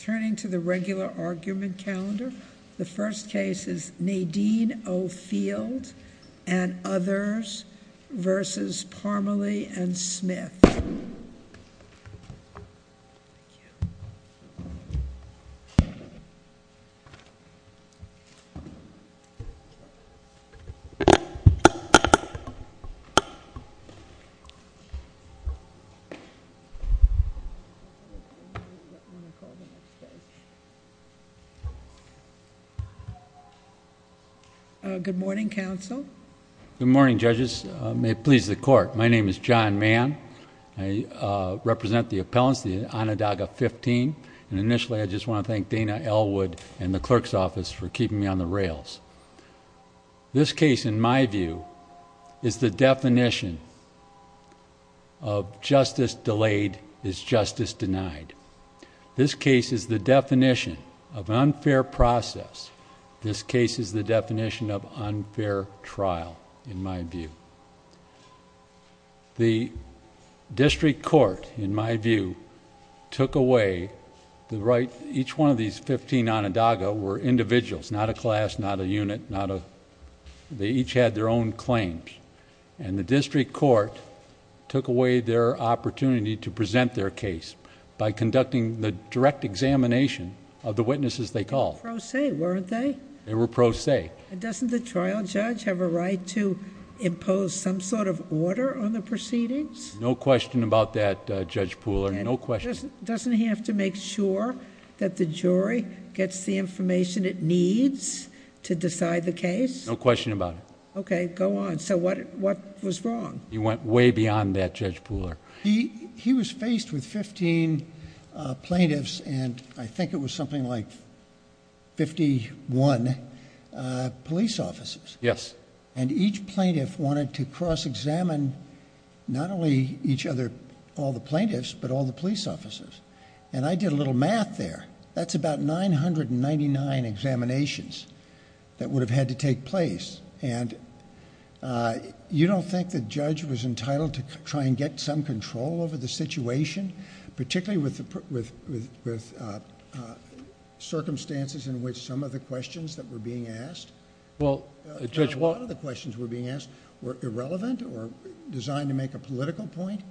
Turning to the regular argument calendar, the first case is Nadine O'Field and others versus Parmley and Smith. Good morning, judges. May it please the court. My name is John Mann. I represent the appellants, the Onondaga 15, and initially I just want to thank Dana Elwood and the clerk's office for keeping me on the rails. This case, in my view, is the definition of justice delayed is justice denied. This case is the definition of unfair process. This case is the definition of unfair trial, in my view. The district court, in my view, took away the right, each one of these 15 Onondaga were individuals, not a class, not a unit, not a, they each had their own claims, and the district court took away their opportunity to present their case by conducting the direct examination of the witnesses they called. They were pro se, weren't they? They were pro se. And doesn't the trial judge have a right to impose some sort of order on the proceedings? No question about that, Judge Pooler, no question. Doesn't he have to make sure that the jury gets the information it needs to decide the case? No question about it. Okay, go on. So what was wrong? He went way beyond that, Judge Pooler. He was faced with 15 plaintiffs, and I think it was something like 51 police officers, and each plaintiff wanted to cross-examine not only each other, all the plaintiffs, but all the police officers, and I did a little math there. That's about 999 examinations that would have had to take place, and you don't think the judge was entitled to try and get some control over the situation, particularly with circumstances in which some of the questions that were being asked, a lot of the questions that were being asked were irrelevant or designed to make a political point?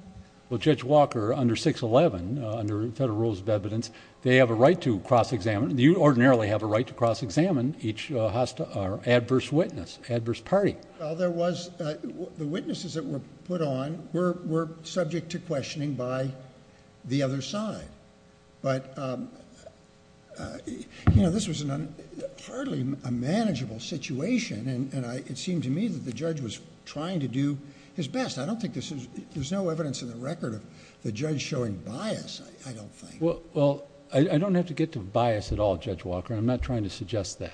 Well, Judge Walker, under 611, under Federal Rules of Evidence, they have a right to cross-examine. You ordinarily have a right to cross-examine each adverse witness, adverse party. Well, there was... the witnesses that were put on were subject to questioning by the other side, but this was hardly a manageable situation, and it seemed to me that the judge was trying to do his best. I don't think there's no evidence in the record of the judge showing bias, I don't think. Well, I don't have to get to bias at all, Judge Walker. I'm not trying to suggest that.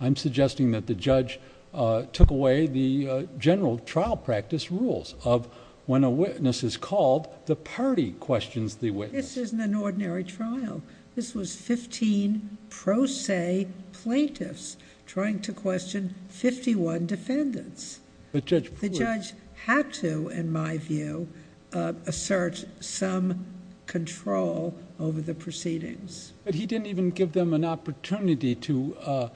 I'm suggesting that the judge took away the general trial practice rules of when a witness is called, the party questions the witness. This isn't an ordinary trial. This was fifteen pro se plaintiffs trying to question fifty-one defendants. But Judge... But he didn't even give them an opportunity to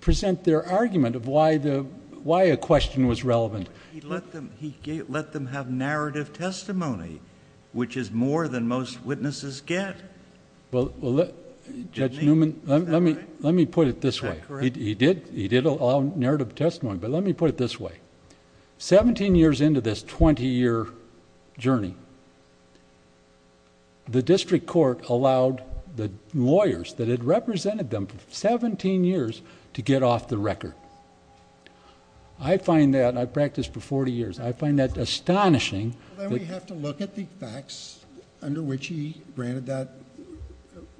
present their argument of why a question was relevant. He let them have narrative testimony, which is more than most witnesses get. Well, Judge Newman, let me put it this way. Is that correct? He did allow narrative testimony, but let me put it this way. Seventeen years into this court allowed the lawyers that had represented them for seventeen years to get off the record. I find that... I've practiced for forty years. I find that astonishing... Well, then we have to look at the facts under which he granted that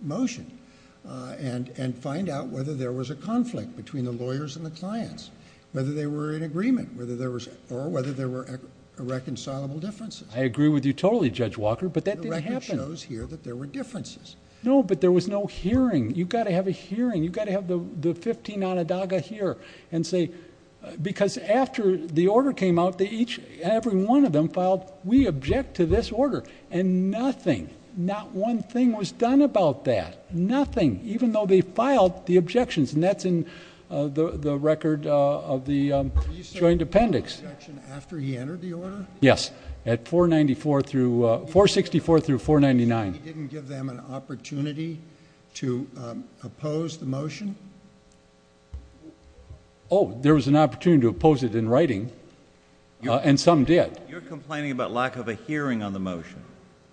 motion, and find out whether there was a conflict between the lawyers and the clients, whether they were in agreement, or whether there were irreconcilable differences. I agree with you totally, Judge Walker, but that didn't happen. No, but there was no hearing. You've got to have a hearing. You've got to have the fifteen on a daga here, and say... Because after the order came out, they each... every one of them filed, we object to this order, and nothing, not one thing was done about that, nothing, even though they filed the objections, and that's in the record of the joint appendix. Were you certain there was no objection after he entered the order? Yes, at 494 through... 464 through 499. He didn't give them an opportunity to oppose the motion? Oh, there was an opportunity to oppose it in writing, and some did. You're complaining about lack of a hearing on the motion?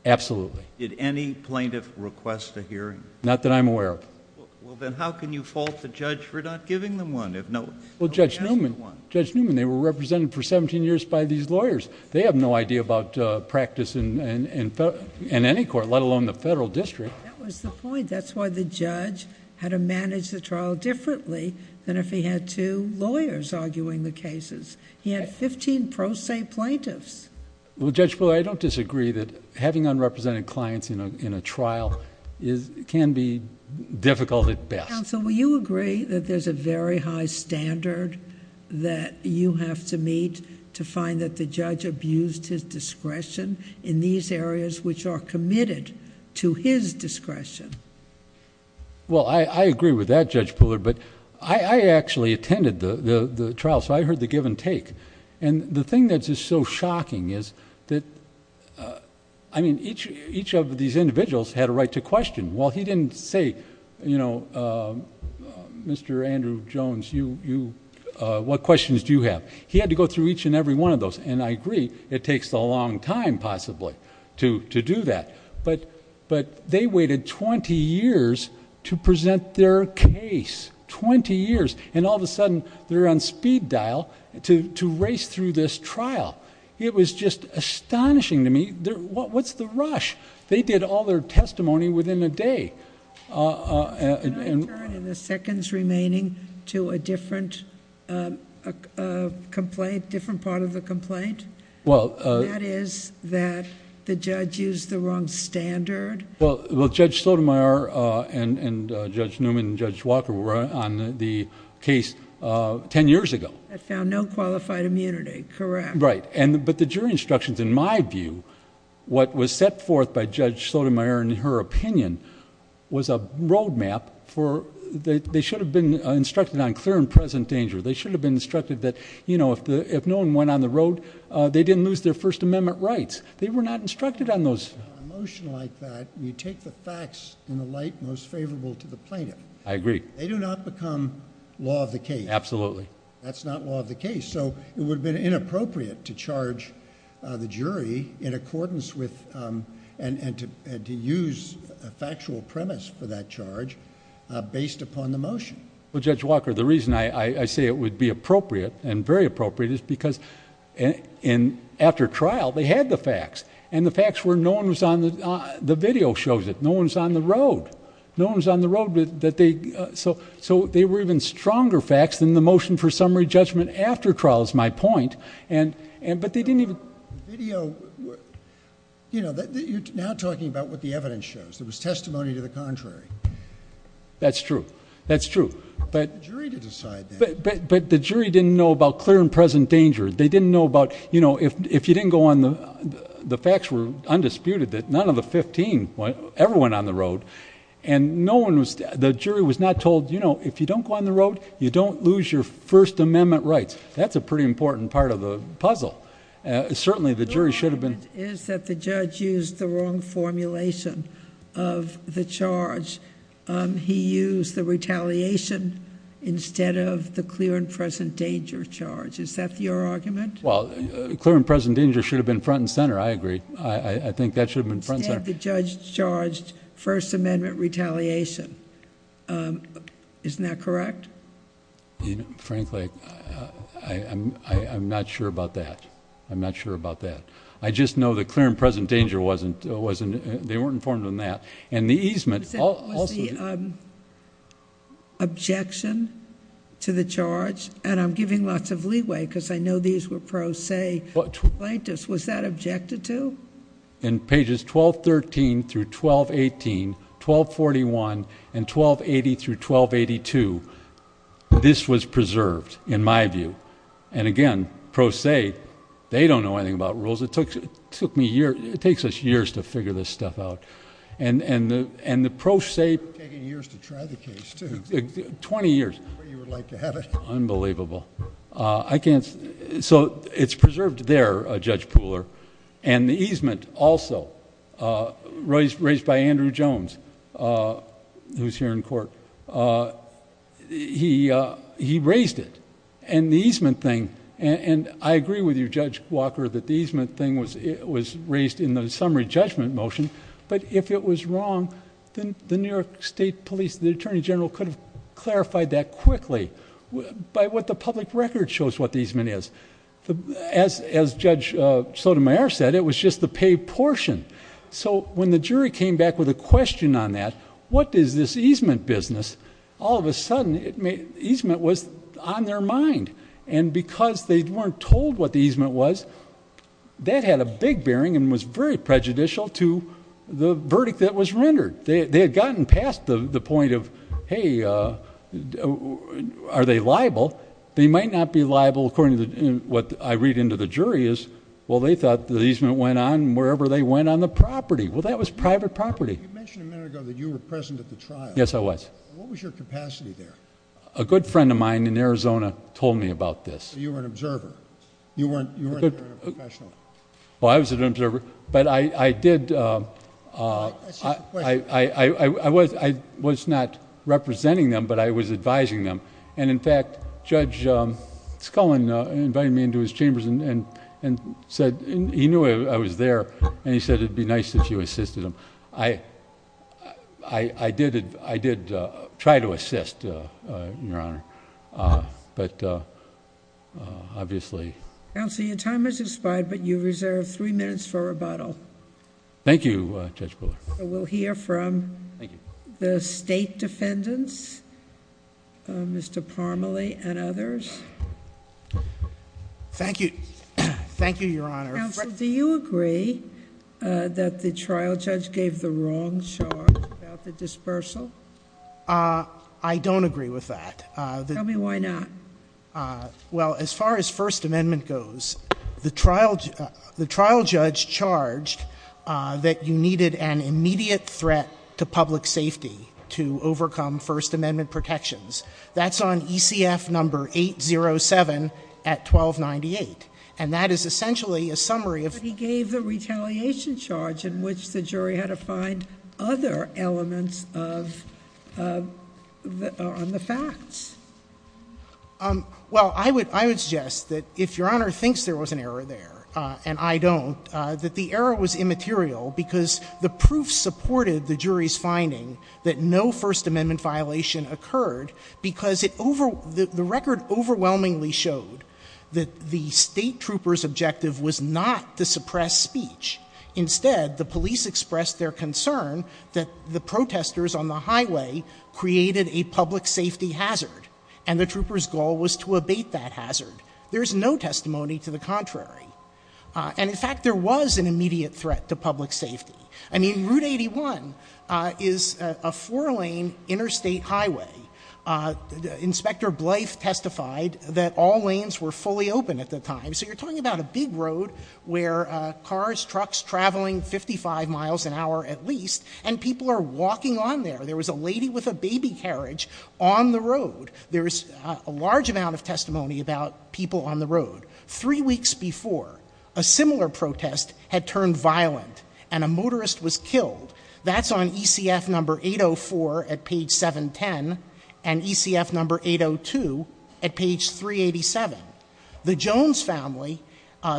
Absolutely. Did any plaintiff request a hearing? Not that I'm aware of. Well, then how can you fault the judge for not giving them one? Judge Newman, they were represented for seventeen years by these lawyers. They have no idea about practice in any court, let alone the federal district. That was the point. That's why the judge had to manage the trial differently than if he had two lawyers arguing the cases. He had fifteen pro se plaintiffs. Well, Judge Fuller, I don't disagree that having unrepresented clients in a trial can be difficult at best. Counsel, will you agree that there's a very high standard that you have to meet to find that the judge abused his discretion in these areas which are committed to his discretion? Well, I agree with that, Judge Fuller, but I actually attended the trial, so I heard the give and take. The thing that is so shocking is that each of these individuals had a right to question. Well, he didn't say, Mr. Andrew Jones, what questions do you have? He had to go through each and every one of those, and I agree, it takes a long time possibly to do that. But they waited twenty years to present their case, twenty years, and all of a sudden they're on speed dial to race through this trial. It was just astonishing to me. What's the rush? They did all their testimony within a day. Can I turn in the seconds remaining to a different complaint, different part of the complaint? Well... That is that the judge used the wrong standard. Well, Judge Sotomayor and Judge Newman and Judge Walker were on the case ten years ago. That found no qualified immunity, correct. Right, but the jury instructions, in my view, what was set forth by Judge Sotomayor in her opinion, was a road map for... They should have been instructed on clear and present danger. They should have been instructed that, you know, if no one went on the road, they didn't lose their First Amendment rights. They were not instructed on those. On a motion like that, you take the facts in a light most favorable to the plaintiff. I agree. They do not become law of the case. Absolutely. That's not law of the case. So, it would have been inappropriate to charge the jury in accordance with... and to use a factual premise for that charge, based upon the motion. Well, Judge Walker, the reason I say it would be appropriate, and very appropriate, is because after trial, they had the facts. And the facts were no one was on the... the video shows it. No one's on the road. No one's on the road. So, they were even stronger facts than the motion for summary judgment after trial, is my point. But they didn't even... Video... You know, you're now talking about what the evidence shows. There was testimony to the contrary. That's true. That's true. But... For the jury to decide that. But the jury didn't know about clear and present danger. They didn't know about... You know, if you didn't go on the... the facts were undisputed that none of the 15 ever went on the road. And no one was... the jury was not told, you know, if you don't go on the road, you don't lose your First Amendment rights. That's a pretty important part of the puzzle. Certainly, the jury should have been... The argument is that the judge used the wrong formulation of the charge. He used the retaliation instead of the clear and present danger charge. Is that your argument? Well, clear and present danger should have been front and center. I agree. I think that should have been front and center. Instead, the judge charged First Amendment retaliation. Isn't that correct? Frankly, I'm not sure about that. I'm not sure about that. I just know that clear and present danger wasn't... they weren't informed on that. And the easement... Was the objection to the charge... And I'm giving lots of leeway because I know these were pro se plaintiffs. Was that objected to? In pages 1213 through 1218, 1241, and 1280 through 1282, this was preserved, in my view. And again, pro se, they don't know anything about rules. It took me years... it takes us years to figure this stuff out. And the pro se... It's taken years to try the case, too. Twenty years. Unbelievable. I can't... So, it's preserved there, Judge Pooler. And the easement, also, raised by Andrew Jones, who's here in court. He raised it. And the easement thing... And I agree with you, Judge Walker, that the easement thing was raised in the summary judgment motion. But, if it was wrong, then the New York State Police... The Attorney General could have clarified that quickly by what the public record shows what the easement is. As Judge Sotomayor said, it was just the paid portion. So, when the jury came back with a question on that... What is this easement business? All of a sudden, easement was on their mind. And because they weren't told what the easement was... That had a big bearing and was very prejudicial to the verdict that was rendered. They had gotten past the point of... Hey, are they liable? They might not be liable, according to what I read into the jury is... Well, they thought the easement went on wherever they went on the property. Well, that was private property. You mentioned a minute ago that you were present at the trial. Yes, I was. What was your capacity there? A good friend of mine in Arizona told me about this. So, you were an observer. You weren't a professional. Well, I was an observer, but I did... I was not representing them, but I was advising them. And, in fact, Judge Scullin invited me into his chambers and said... He knew I was there, and he said it would be nice if you assisted him. I did try to assist, Your Honor. But, obviously... Counsel, your time has expired, but you reserve three minutes for rebuttal. Thank you, Judge Brewer. We'll hear from the state defendants, Mr. Parmelee and others. Thank you. Thank you, Your Honor. Counsel, do you agree that the trial judge gave the wrong charge about the dispersal? I don't agree with that. Tell me why not. Well, as far as First Amendment goes, the trial judge charged that you needed an immediate threat to public safety to overcome First Amendment protections. That's on ECF number 807 at 1298. And that is essentially a summary of... on the facts. Well, I would suggest that if Your Honor thinks there was an error there, and I don't, that the error was immaterial because the proof supported the jury's finding that no First Amendment violation occurred because the record overwhelmingly showed that the state trooper's objective was not to suppress speech. Instead, the police expressed their concern that the protesters on the highway created a public safety hazard, and the trooper's goal was to abate that hazard. There is no testimony to the contrary. And, in fact, there was an immediate threat to public safety. I mean, Route 81 is a four-lane interstate highway. Inspector Blythe testified that all lanes were fully open at the time. So you're talking about a big road where cars, trucks traveling 55 miles an hour at least, and people are walking on there. There was a lady with a baby carriage on the road. There is a large amount of testimony about people on the road. Three weeks before, a similar protest had turned violent, and a motorist was killed. That's on ECF number 804 at page 710 and ECF number 802 at page 387. The Jones family,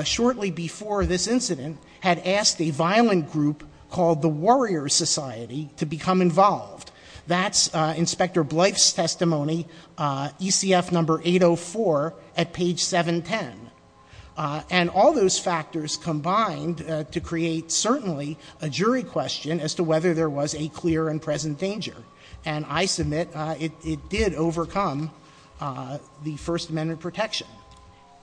shortly before this incident, had asked a violent group called the Warrior Society to become involved. That's Inspector Blythe's testimony, ECF number 804 at page 710. And all those factors combined to create certainly a jury question as to whether there was a clear and present danger. And I submit it did overcome the First Amendment protection,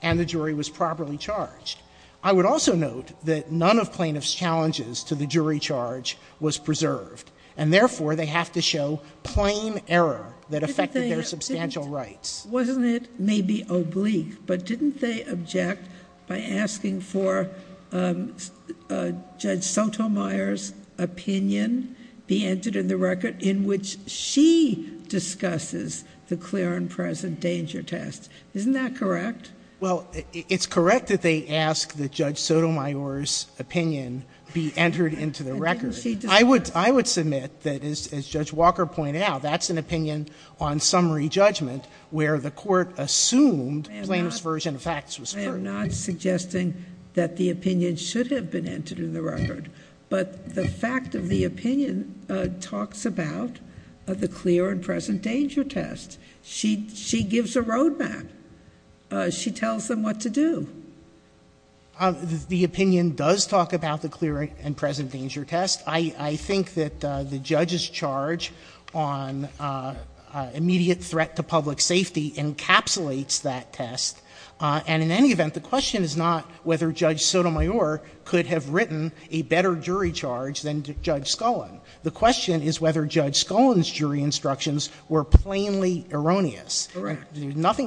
and the jury was properly charged. I would also note that none of plaintiffs' challenges to the jury charge was preserved, and therefore they have to show plain error that affected their substantial rights. Wasn't it maybe oblique, but didn't they object by asking for Judge Sotomayor's opinion be entered in the record in which she discusses the clear and present danger test? Isn't that correct? Well, it's correct that they ask that Judge Sotomayor's opinion be entered into the record. I would submit that, as Judge Walker pointed out, that's an opinion on summary judgment, where the court assumed plaintiff's version of facts was true. I am not suggesting that the opinion should have been entered in the record, but the fact of the opinion talks about the clear and present danger test. She gives a roadmap. She tells them what to do. The opinion does talk about the clear and present danger test. I think that the judge's charge on immediate threat to public safety encapsulates that test. And in any event, the question is not whether Judge Sotomayor could have written a better jury charge than Judge Scullin. The question is whether Judge Scullin's jury instructions were plainly erroneous. Correct. Unless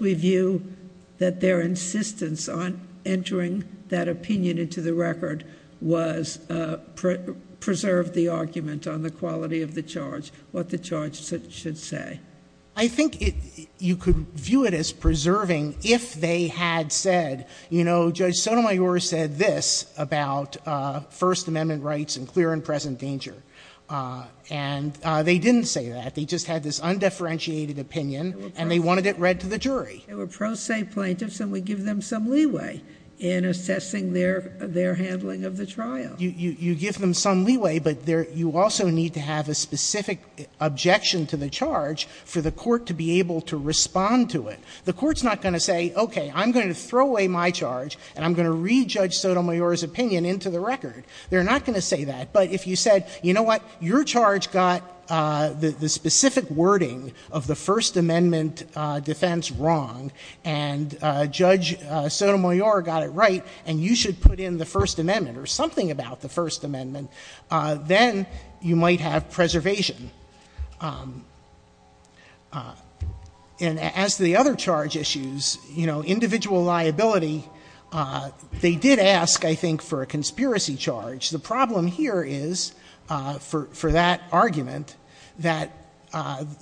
we view that their insistence on entering that opinion into the record preserved the argument on the quality of the charge, what the charge should say. I think you could view it as preserving if they had said, you know, Judge Sotomayor said this about First Amendment rights and clear and present danger. And they didn't say that. They just had this undifferentiated opinion, and they wanted it read to the jury. They were pro se plaintiffs, and we give them some leeway in assessing their handling of the trial. You give them some leeway, but you also need to have a specific objection to the charge for the court to be able to respond to it. The court's not going to say, okay, I'm going to throw away my charge, and I'm going to re-judge Sotomayor's opinion into the record. They're not going to say that. But if you said, you know what, your charge got the specific wording of the First Amendment defense wrong, and Judge Sotomayor got it right, and you should put in the First Amendment or something about the First Amendment, then you might have preservation. And as to the other charge issues, you know, individual liability, they did ask, I think, for a conspiracy charge. The problem here is, for that argument, that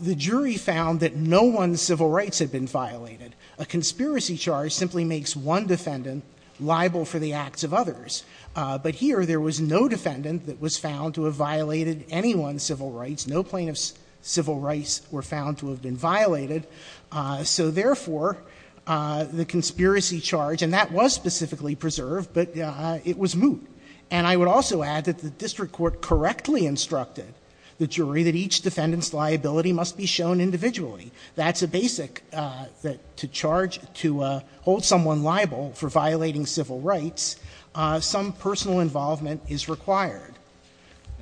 the jury found that no one's civil rights had been violated. A conspiracy charge simply makes one defendant liable for the acts of others. But here, there was no defendant that was found to have violated anyone's civil rights. No plaintiffs' civil rights were found to have been violated. So therefore, the conspiracy charge, and that was specifically preserved, but it was moot. And I would also add that the district court correctly instructed the jury that each defendant's liability must be shown individually. That's a basic that to charge, to hold someone liable for violating civil rights, some personal involvement is required.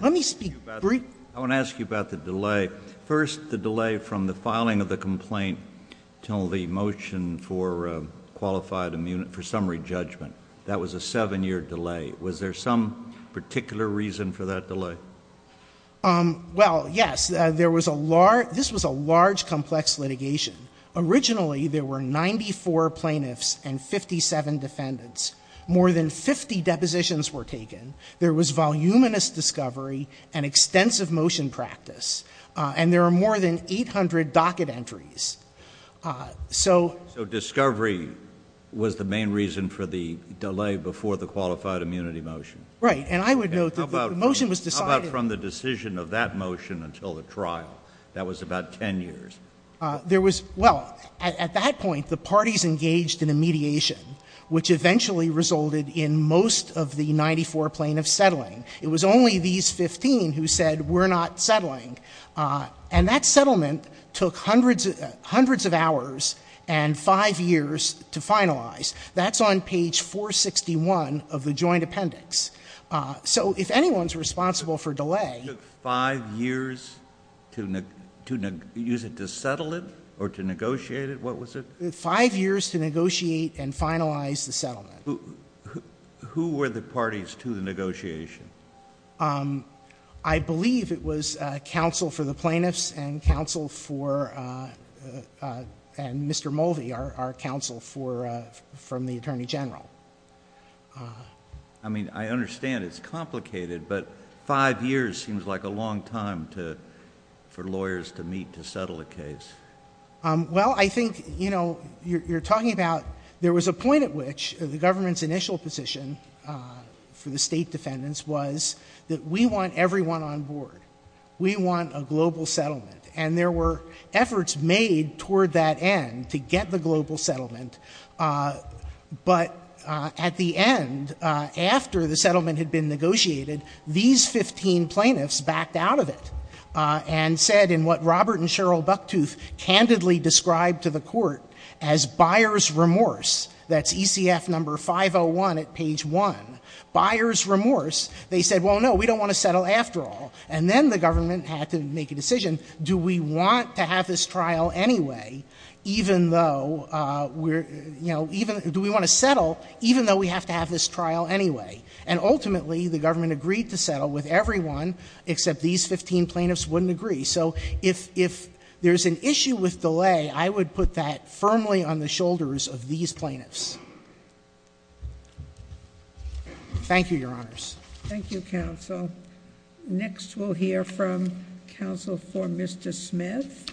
Let me speak briefly. JUSTICE KENNEDY I want to ask you about the delay. First, the delay from the filing of the complaint until the motion for qualified immunity, for summary judgment. That was a seven-year delay. Was there some particular reason for that delay? MR. CLEMENT Well, yes. This was a large, complex litigation. Originally, there were 94 plaintiffs and 57 defendants. More than 50 depositions were taken. There was voluminous discovery and extensive motion practice. And there were more than 800 docket entries. JUSTICE KENNEDY So discovery was the main reason for the delay before the qualified immunity motion? MR. CLEMENT Right. And I would note that the motion was decided— JUSTICE KENNEDY How about from the decision of that motion until the trial? That was about 10 years. MR. CLEMENT Well, at that point, the parties engaged in a mediation, which eventually resulted in most of the 94 plaintiffs settling. It was only these 15 who said, we're not settling. And that settlement took hundreds of hours and five years to finalize. That's on page 461 of the Joint Appendix. So if anyone's responsible for delay— JUSTICE KENNEDY It took five years to settle it or to negotiate it? What was it? MR. CLEMENT Five years to negotiate and finalize the settlement. JUSTICE KENNEDY Who were the parties to the negotiation? MR. CLEMENT I believe it was counsel for the plaintiffs and counsel for—and Mr. Mulvey, our counsel from the Attorney General. JUSTICE KENNEDY I mean, I understand it's complicated, but five years seems like a long time for lawyers to meet to settle a case. MR. CLEMENT Well, I think, you know, you're talking about— So the government's initial position for the State defendants was that we want everyone on board. We want a global settlement. And there were efforts made toward that end to get the global settlement. But at the end, after the settlement had been negotiated, these 15 plaintiffs backed out of it and said in what Robert and Cheryl Bucktooth candidly described to the Court as buyer's remorse, that's ECF number 501 at page 1, buyer's remorse, they said, well, no, we don't want to settle after all. And then the government had to make a decision. Do we want to have this trial anyway, even though we're—you know, even—do we want to settle even though we have to have this trial anyway? And ultimately, the government agreed to settle with everyone, except these 15 plaintiffs wouldn't agree. So if there's an issue with delay, I would put that firmly on the shoulders of these plaintiffs. Thank you, Your Honors. JUSTICE SOTOMAYOR Thank you, Counsel. Next, we'll hear from Counsel for Mr. Smith,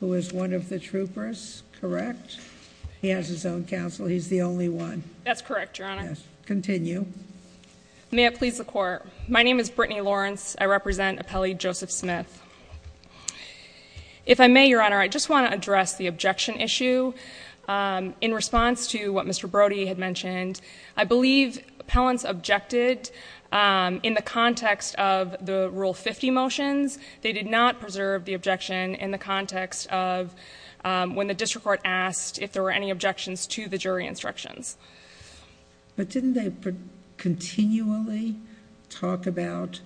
who is one of the troopers, correct? He has his own counsel. He's the only one. BRITTANY LAWRENCE That's correct, Your Honor. JUSTICE SOTOMAYOR Yes. Continue. BRITTANY LAWRENCE May it please the Court. My name is Brittany Lawrence. I represent Appellee Joseph Smith. If I may, Your Honor, I just want to address the objection issue. In response to what Mr. Brody had mentioned, I believe appellants objected in the context of the Rule 50 motions. They did not preserve the objection in the context of when the district court asked if there were any objections to the jury instructions. JUSTICE SOTOMAYOR But didn't they continually talk about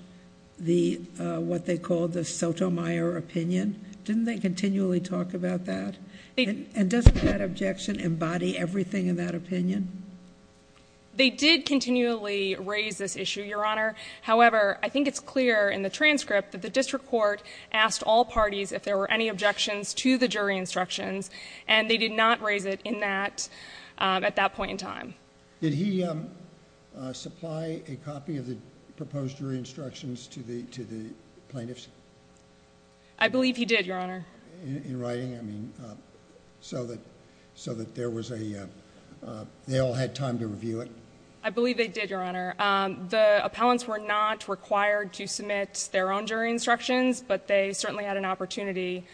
what they called the Sotomayor opinion? Didn't they continually talk about that? And doesn't that objection embody everything in that opinion? BRITTANY LAWRENCE They did continually raise this issue, Your Honor. However, I think it's clear in the transcript that the district court asked all parties if there were any objections to the jury instructions, and they did not raise it at that point in time. JUSTICE SOTOMAYOR Did he supply a copy of the proposed jury instructions to the plaintiffs? BRITTANY LAWRENCE I believe he did, Your Honor. JUSTICE SOTOMAYOR In writing, I mean, so that they all had time to review it? BRITTANY LAWRENCE I believe they did, Your Honor. The appellants were not required to submit their own jury instructions, but they certainly had an opportunity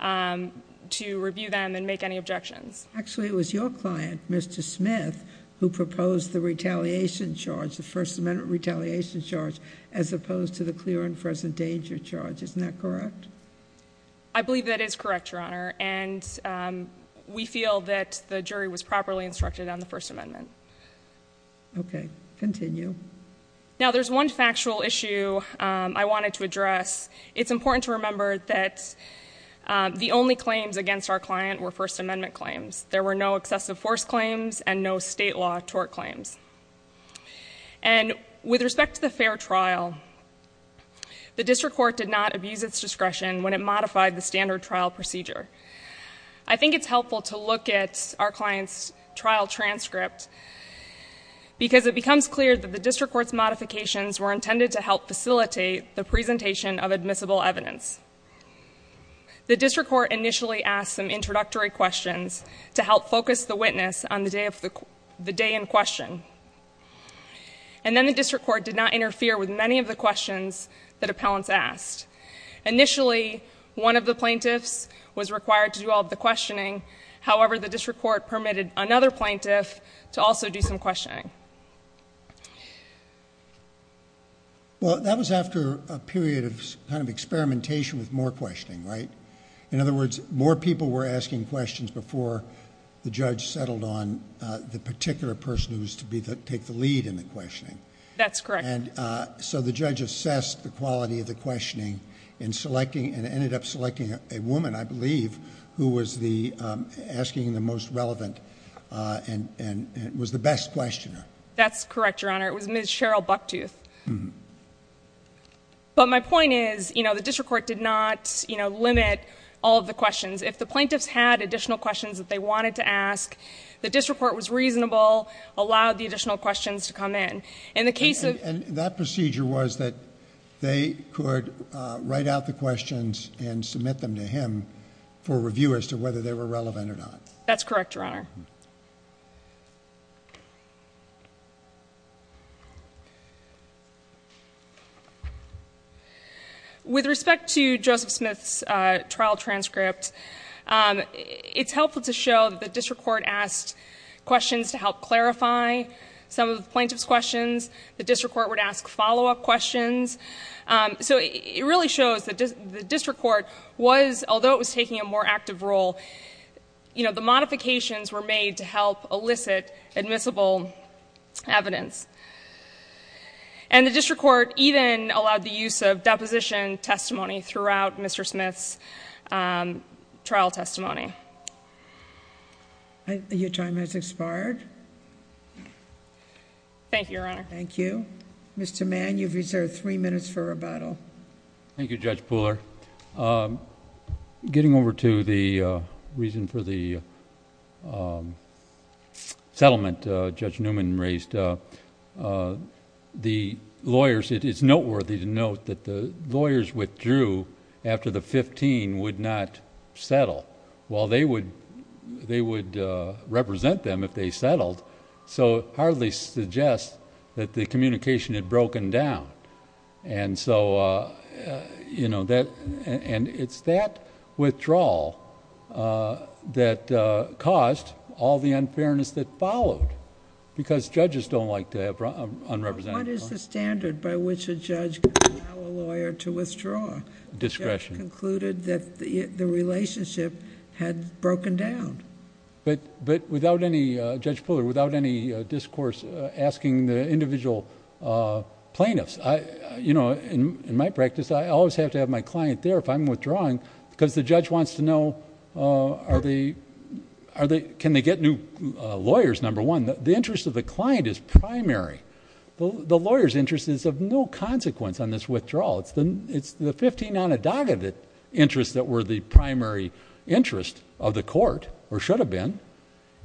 to review them and make any objections. JUSTICE SOTOMAYOR Actually, it was your client, Mr. Smith, who proposed the retaliation charge, the First Amendment retaliation charge, as opposed to the clear and present danger charge. Isn't that correct? BRITTANY LAWRENCE I believe that is correct, Your Honor, and we feel that the jury was properly instructed on the First Amendment. JUSTICE SOTOMAYOR Okay. Continue. BRITTANY LAWRENCE Now, there's one factual issue I wanted to address. It's important to remember that the only claims against our client were First Amendment claims. There were no excessive force claims and no state law tort claims. And with respect to the fair trial, the district court did not abuse its discretion when it modified the standard trial procedure. I think it's helpful to look at our client's trial transcript because it becomes clear that the district court's modifications were intended to help facilitate the presentation of admissible evidence. The district court initially asked some introductory questions to help focus the witness on the day in question, and then the district court did not interfere with many of the questions that appellants asked. Initially, one of the plaintiffs was required to do all of the questioning. However, the district court permitted another plaintiff to also do some questioning. JUSTICE SCALIA Well, that was after a period of experimentation with more questioning, right? In other words, more people were asking questions before the judge settled on the particular person who was to take the lead in the questioning. BRITTANY LAWRENCE That's correct. JUSTICE SCALIA And so the judge assessed the quality of the questioning and ended up selecting a woman, I believe, who was asking the most relevant and was the best questioner. BRITTANY LAWRENCE That's correct, Your Honor. It was Ms. Cheryl Bucktooth. But my point is the district court did not limit all of the questions. If the plaintiffs had additional questions that they wanted to ask, the district court was reasonable, allowed the additional questions to come in. JUSTICE SCALIA And that procedure was that they could write out the questions and submit them to him for review as to whether they were relevant or not. BRITTANY LAWRENCE That's correct, Your Honor. With respect to Joseph Smith's trial transcript, it's helpful to show that the district court asked questions to help clarify some of the plaintiff's questions. The district court would ask follow-up questions. So it really shows that the district court was, although it was taking a more active role, the modifications were made to help elicit admissible evidence. And the district court even allowed the use of deposition testimony throughout Mr. Smith's trial testimony. JUSTICE GINSBURG Your time has expired. BRITTANY LAWRENCE Thank you, Your Honor. JUSTICE GINSBURG Thank you. Mr. Mann, you've reserved three minutes for rebuttal. MR. MANN Thank you, Judge Pooler. Getting over to the reason for the settlement Judge Newman raised, the lawyers... it is noteworthy to note that the lawyers withdrew after the 15 would not settle. Well, they would represent them if they settled, so it hardly suggests that the communication had broken down. And so, you know, that... and it's that withdrawal that caused all the unfairness that followed because judges don't like to have unrepresented... JUSTICE GINSBURG What is the standard by which a judge can allow a lawyer to withdraw? MR. MANN Discretion. JUSTICE GINSBURG The judge concluded that the relationship had broken down. MR. MANN But without any... Judge Pooler, without any discourse asking the individual plaintiffs, you know, in my practice, I always have to have my client there if I'm withdrawing because the judge wants to know can they get new lawyers, number one. The interest of the client is primary. The lawyer's interest is of no consequence on this withdrawal. It's the fifteen unadulterated interests that were the primary interest of the court, or should have been,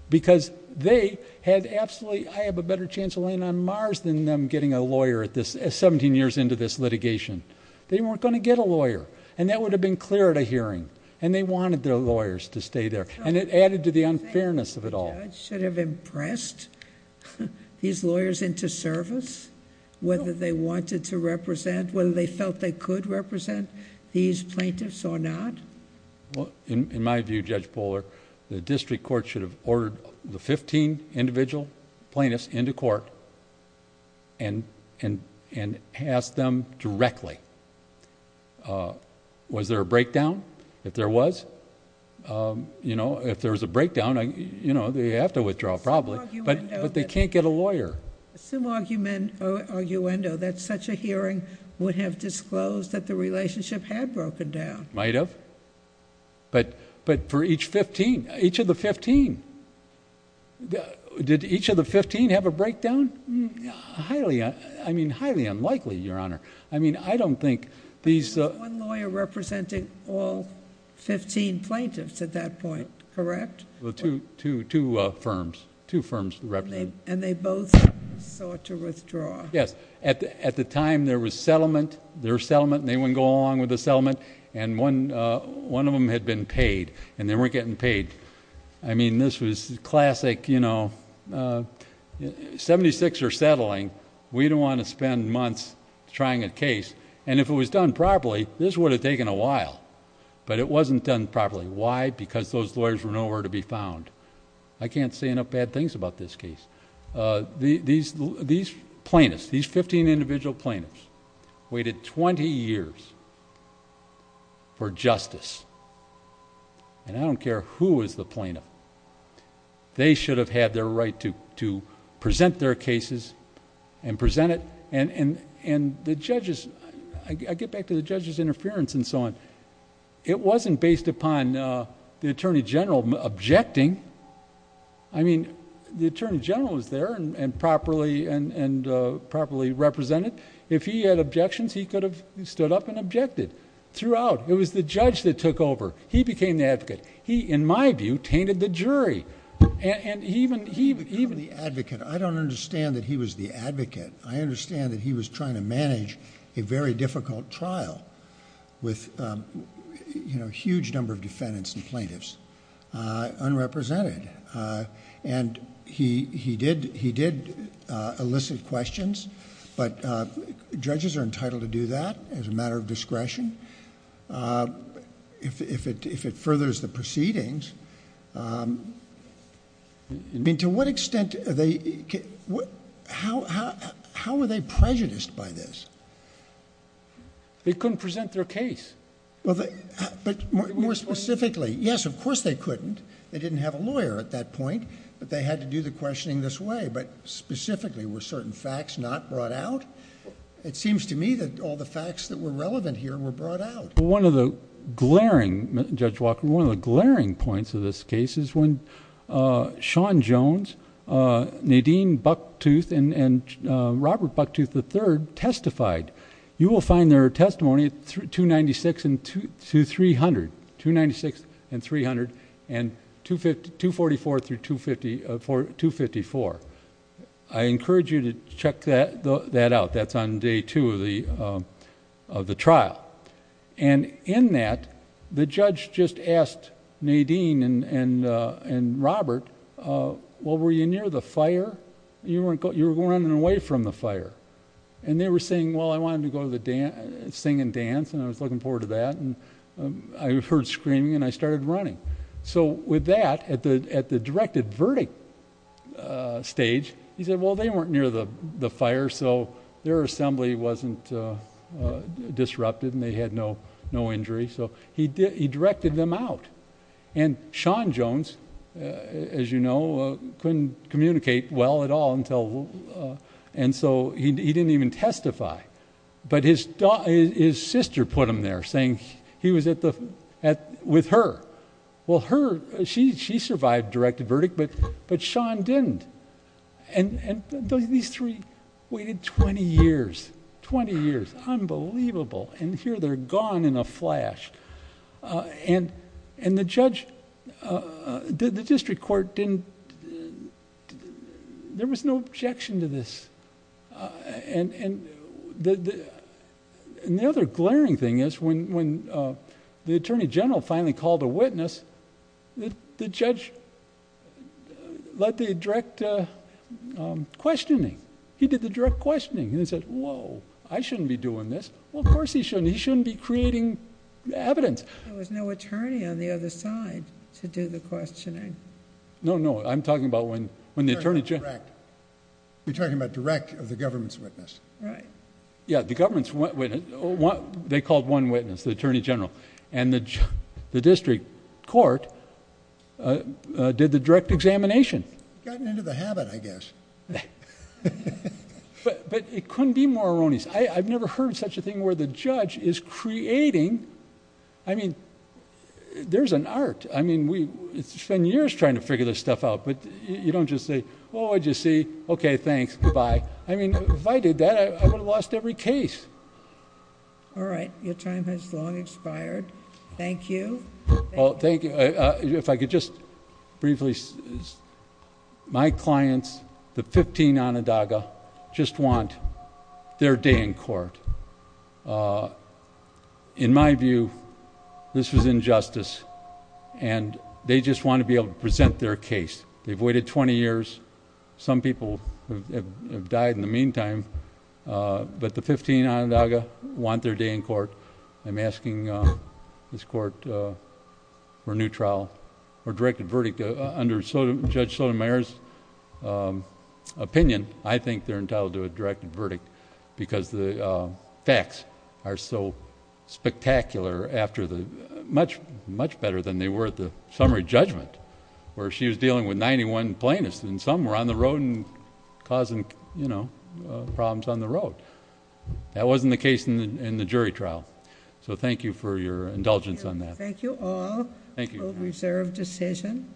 because they had absolutely... I have a better chance of laying on Mars than them getting a lawyer at this... seventeen years into this litigation. They weren't going to get a lawyer, and that would have been clear at a hearing, and they wanted their lawyers to stay there, and it added to the unfairness of it all. JUSTICE GINSBURG The judge should have impressed these lawyers into service, whether they wanted to represent, whether they felt they could represent these plaintiffs or not? MR. MANN In my view, Judge Pooler, the district court should have ordered the fifteen individual plaintiffs into court and asked them directly, was there a breakdown? If there was, you know, if there was a breakdown, you know, they have to withdraw probably, but they can't get a lawyer. JUSTICE GINSBURG Some argument or arguendo that such a hearing would have disclosed that the relationship had broken down. MR. MANN Might have, but for each fifteen, each of the fifteen, did each of the fifteen have a breakdown? Highly, I mean, highly unlikely, Your Honor. I mean, I don't think these... JUSTICE GINSBURG All fifteen plaintiffs at that point, correct? MR. MANN Two firms, two firms represented. JUSTICE GINSBURG And they both sought to withdraw. MR. MANN Yes. At the time, there was settlement. There was settlement, and they wouldn't go along with the settlement, and one of them had been paid, and they weren't getting paid. I mean, this was classic, you know, 76 are settling. We don't want to spend months trying a case, and if it was done properly, this would have taken a while, but it wasn't done properly. Why? Because those lawyers were nowhere to be found. I can't say enough bad things about this case. These plaintiffs, these fifteen individual plaintiffs, waited twenty years for justice, and I don't care who was the plaintiff. They should have had their right to present their cases and present it, and the judges... I get back to the judges' interference and so on. It wasn't based upon the Attorney General objecting. I mean, the Attorney General was there and properly represented. If he had objections, he could have stood up and objected throughout. It was the judge that took over. He became the advocate. He, in my view, tainted the jury, and even... JUSTICE SCALIA I don't understand that he was the advocate. I understand that he was trying to manage a very difficult trial with a huge number of defendants and plaintiffs, unrepresented, and he did elicit questions, but judges are entitled to do that as a matter of discretion if it furthers the proceedings. I mean, to what extent... How were they prejudiced by this? JUSTICE BREYER They couldn't present their case. JUSTICE SCALIA More specifically, yes, of course they couldn't. They didn't have a lawyer at that point, but they had to do the questioning this way, but specifically, were certain facts not brought out? It seems to me that all the facts that were relevant here were brought out. One of the glaring points of this case is when Sean Jones, Nadine Bucktooth, and Robert Bucktooth III testified. You will find their testimony at 296 and 300, 296 and 300, and 244 through 254. I encourage you to check that out. That's on day two of the trial. In that, the judge just asked Nadine and Robert, well, were you near the fire? You were running away from the fire. They were saying, well, I wanted to go sing and dance, and I was looking forward to that. I heard screaming, and I started running. With that, at the directed verdict stage, he said, well, they weren't near the fire, so their assembly wasn't disrupted, and they had no injury. He directed them out. And Sean Jones, as you know, couldn't communicate well at all, and so he didn't even testify. But his sister put him there, saying he was with her. Well, she survived directed verdict, but Sean didn't. These three waited 20 years, 20 years, unbelievable, and here they're gone in a flash. The judge, the district court didn't... There was no objection to this. The other glaring thing is when the attorney general finally called a witness, the judge led the direct questioning. He did the direct questioning, and he said, whoa, I shouldn't be doing this. Well, of course he shouldn't. He shouldn't be creating evidence. There was no attorney on the other side to do the questioning. No, no. I'm talking about when the attorney general... You're talking about direct of the government's witness. Right. Yeah, the government's witness. They called one witness, the attorney general, and the district court did the direct examination. Gotten into the habit, I guess. But it couldn't be more erroneous. I've never heard such a thing where the judge is creating... I mean, there's an art. I mean, we've spent years trying to figure this stuff out, but you don't just say, oh, I just see. Okay, thanks. Goodbye. I mean, if I did that, I would have lost every case. All right. Your time has long expired. Thank you. Well, thank you. If I could just briefly... My clients, the 15 Onondaga, just want their day in court. In my view, this was injustice, and they just want to be able to present their case. They've waited 20 years. Some people have died in the meantime, but the 15 Onondaga want their day in court. I'm asking this court for a new trial or directed verdict under Judge Sotomayor's opinion. I think they're entitled to a directed verdict because the facts are so spectacular after the... much better than they were at the summary judgment where she was dealing with 91 plaintiffs, and some were on the road and causing problems on the road. That wasn't the case in the jury trial. So thank you for your indulgence on that. Thank you all. Thank you. A reserved decision.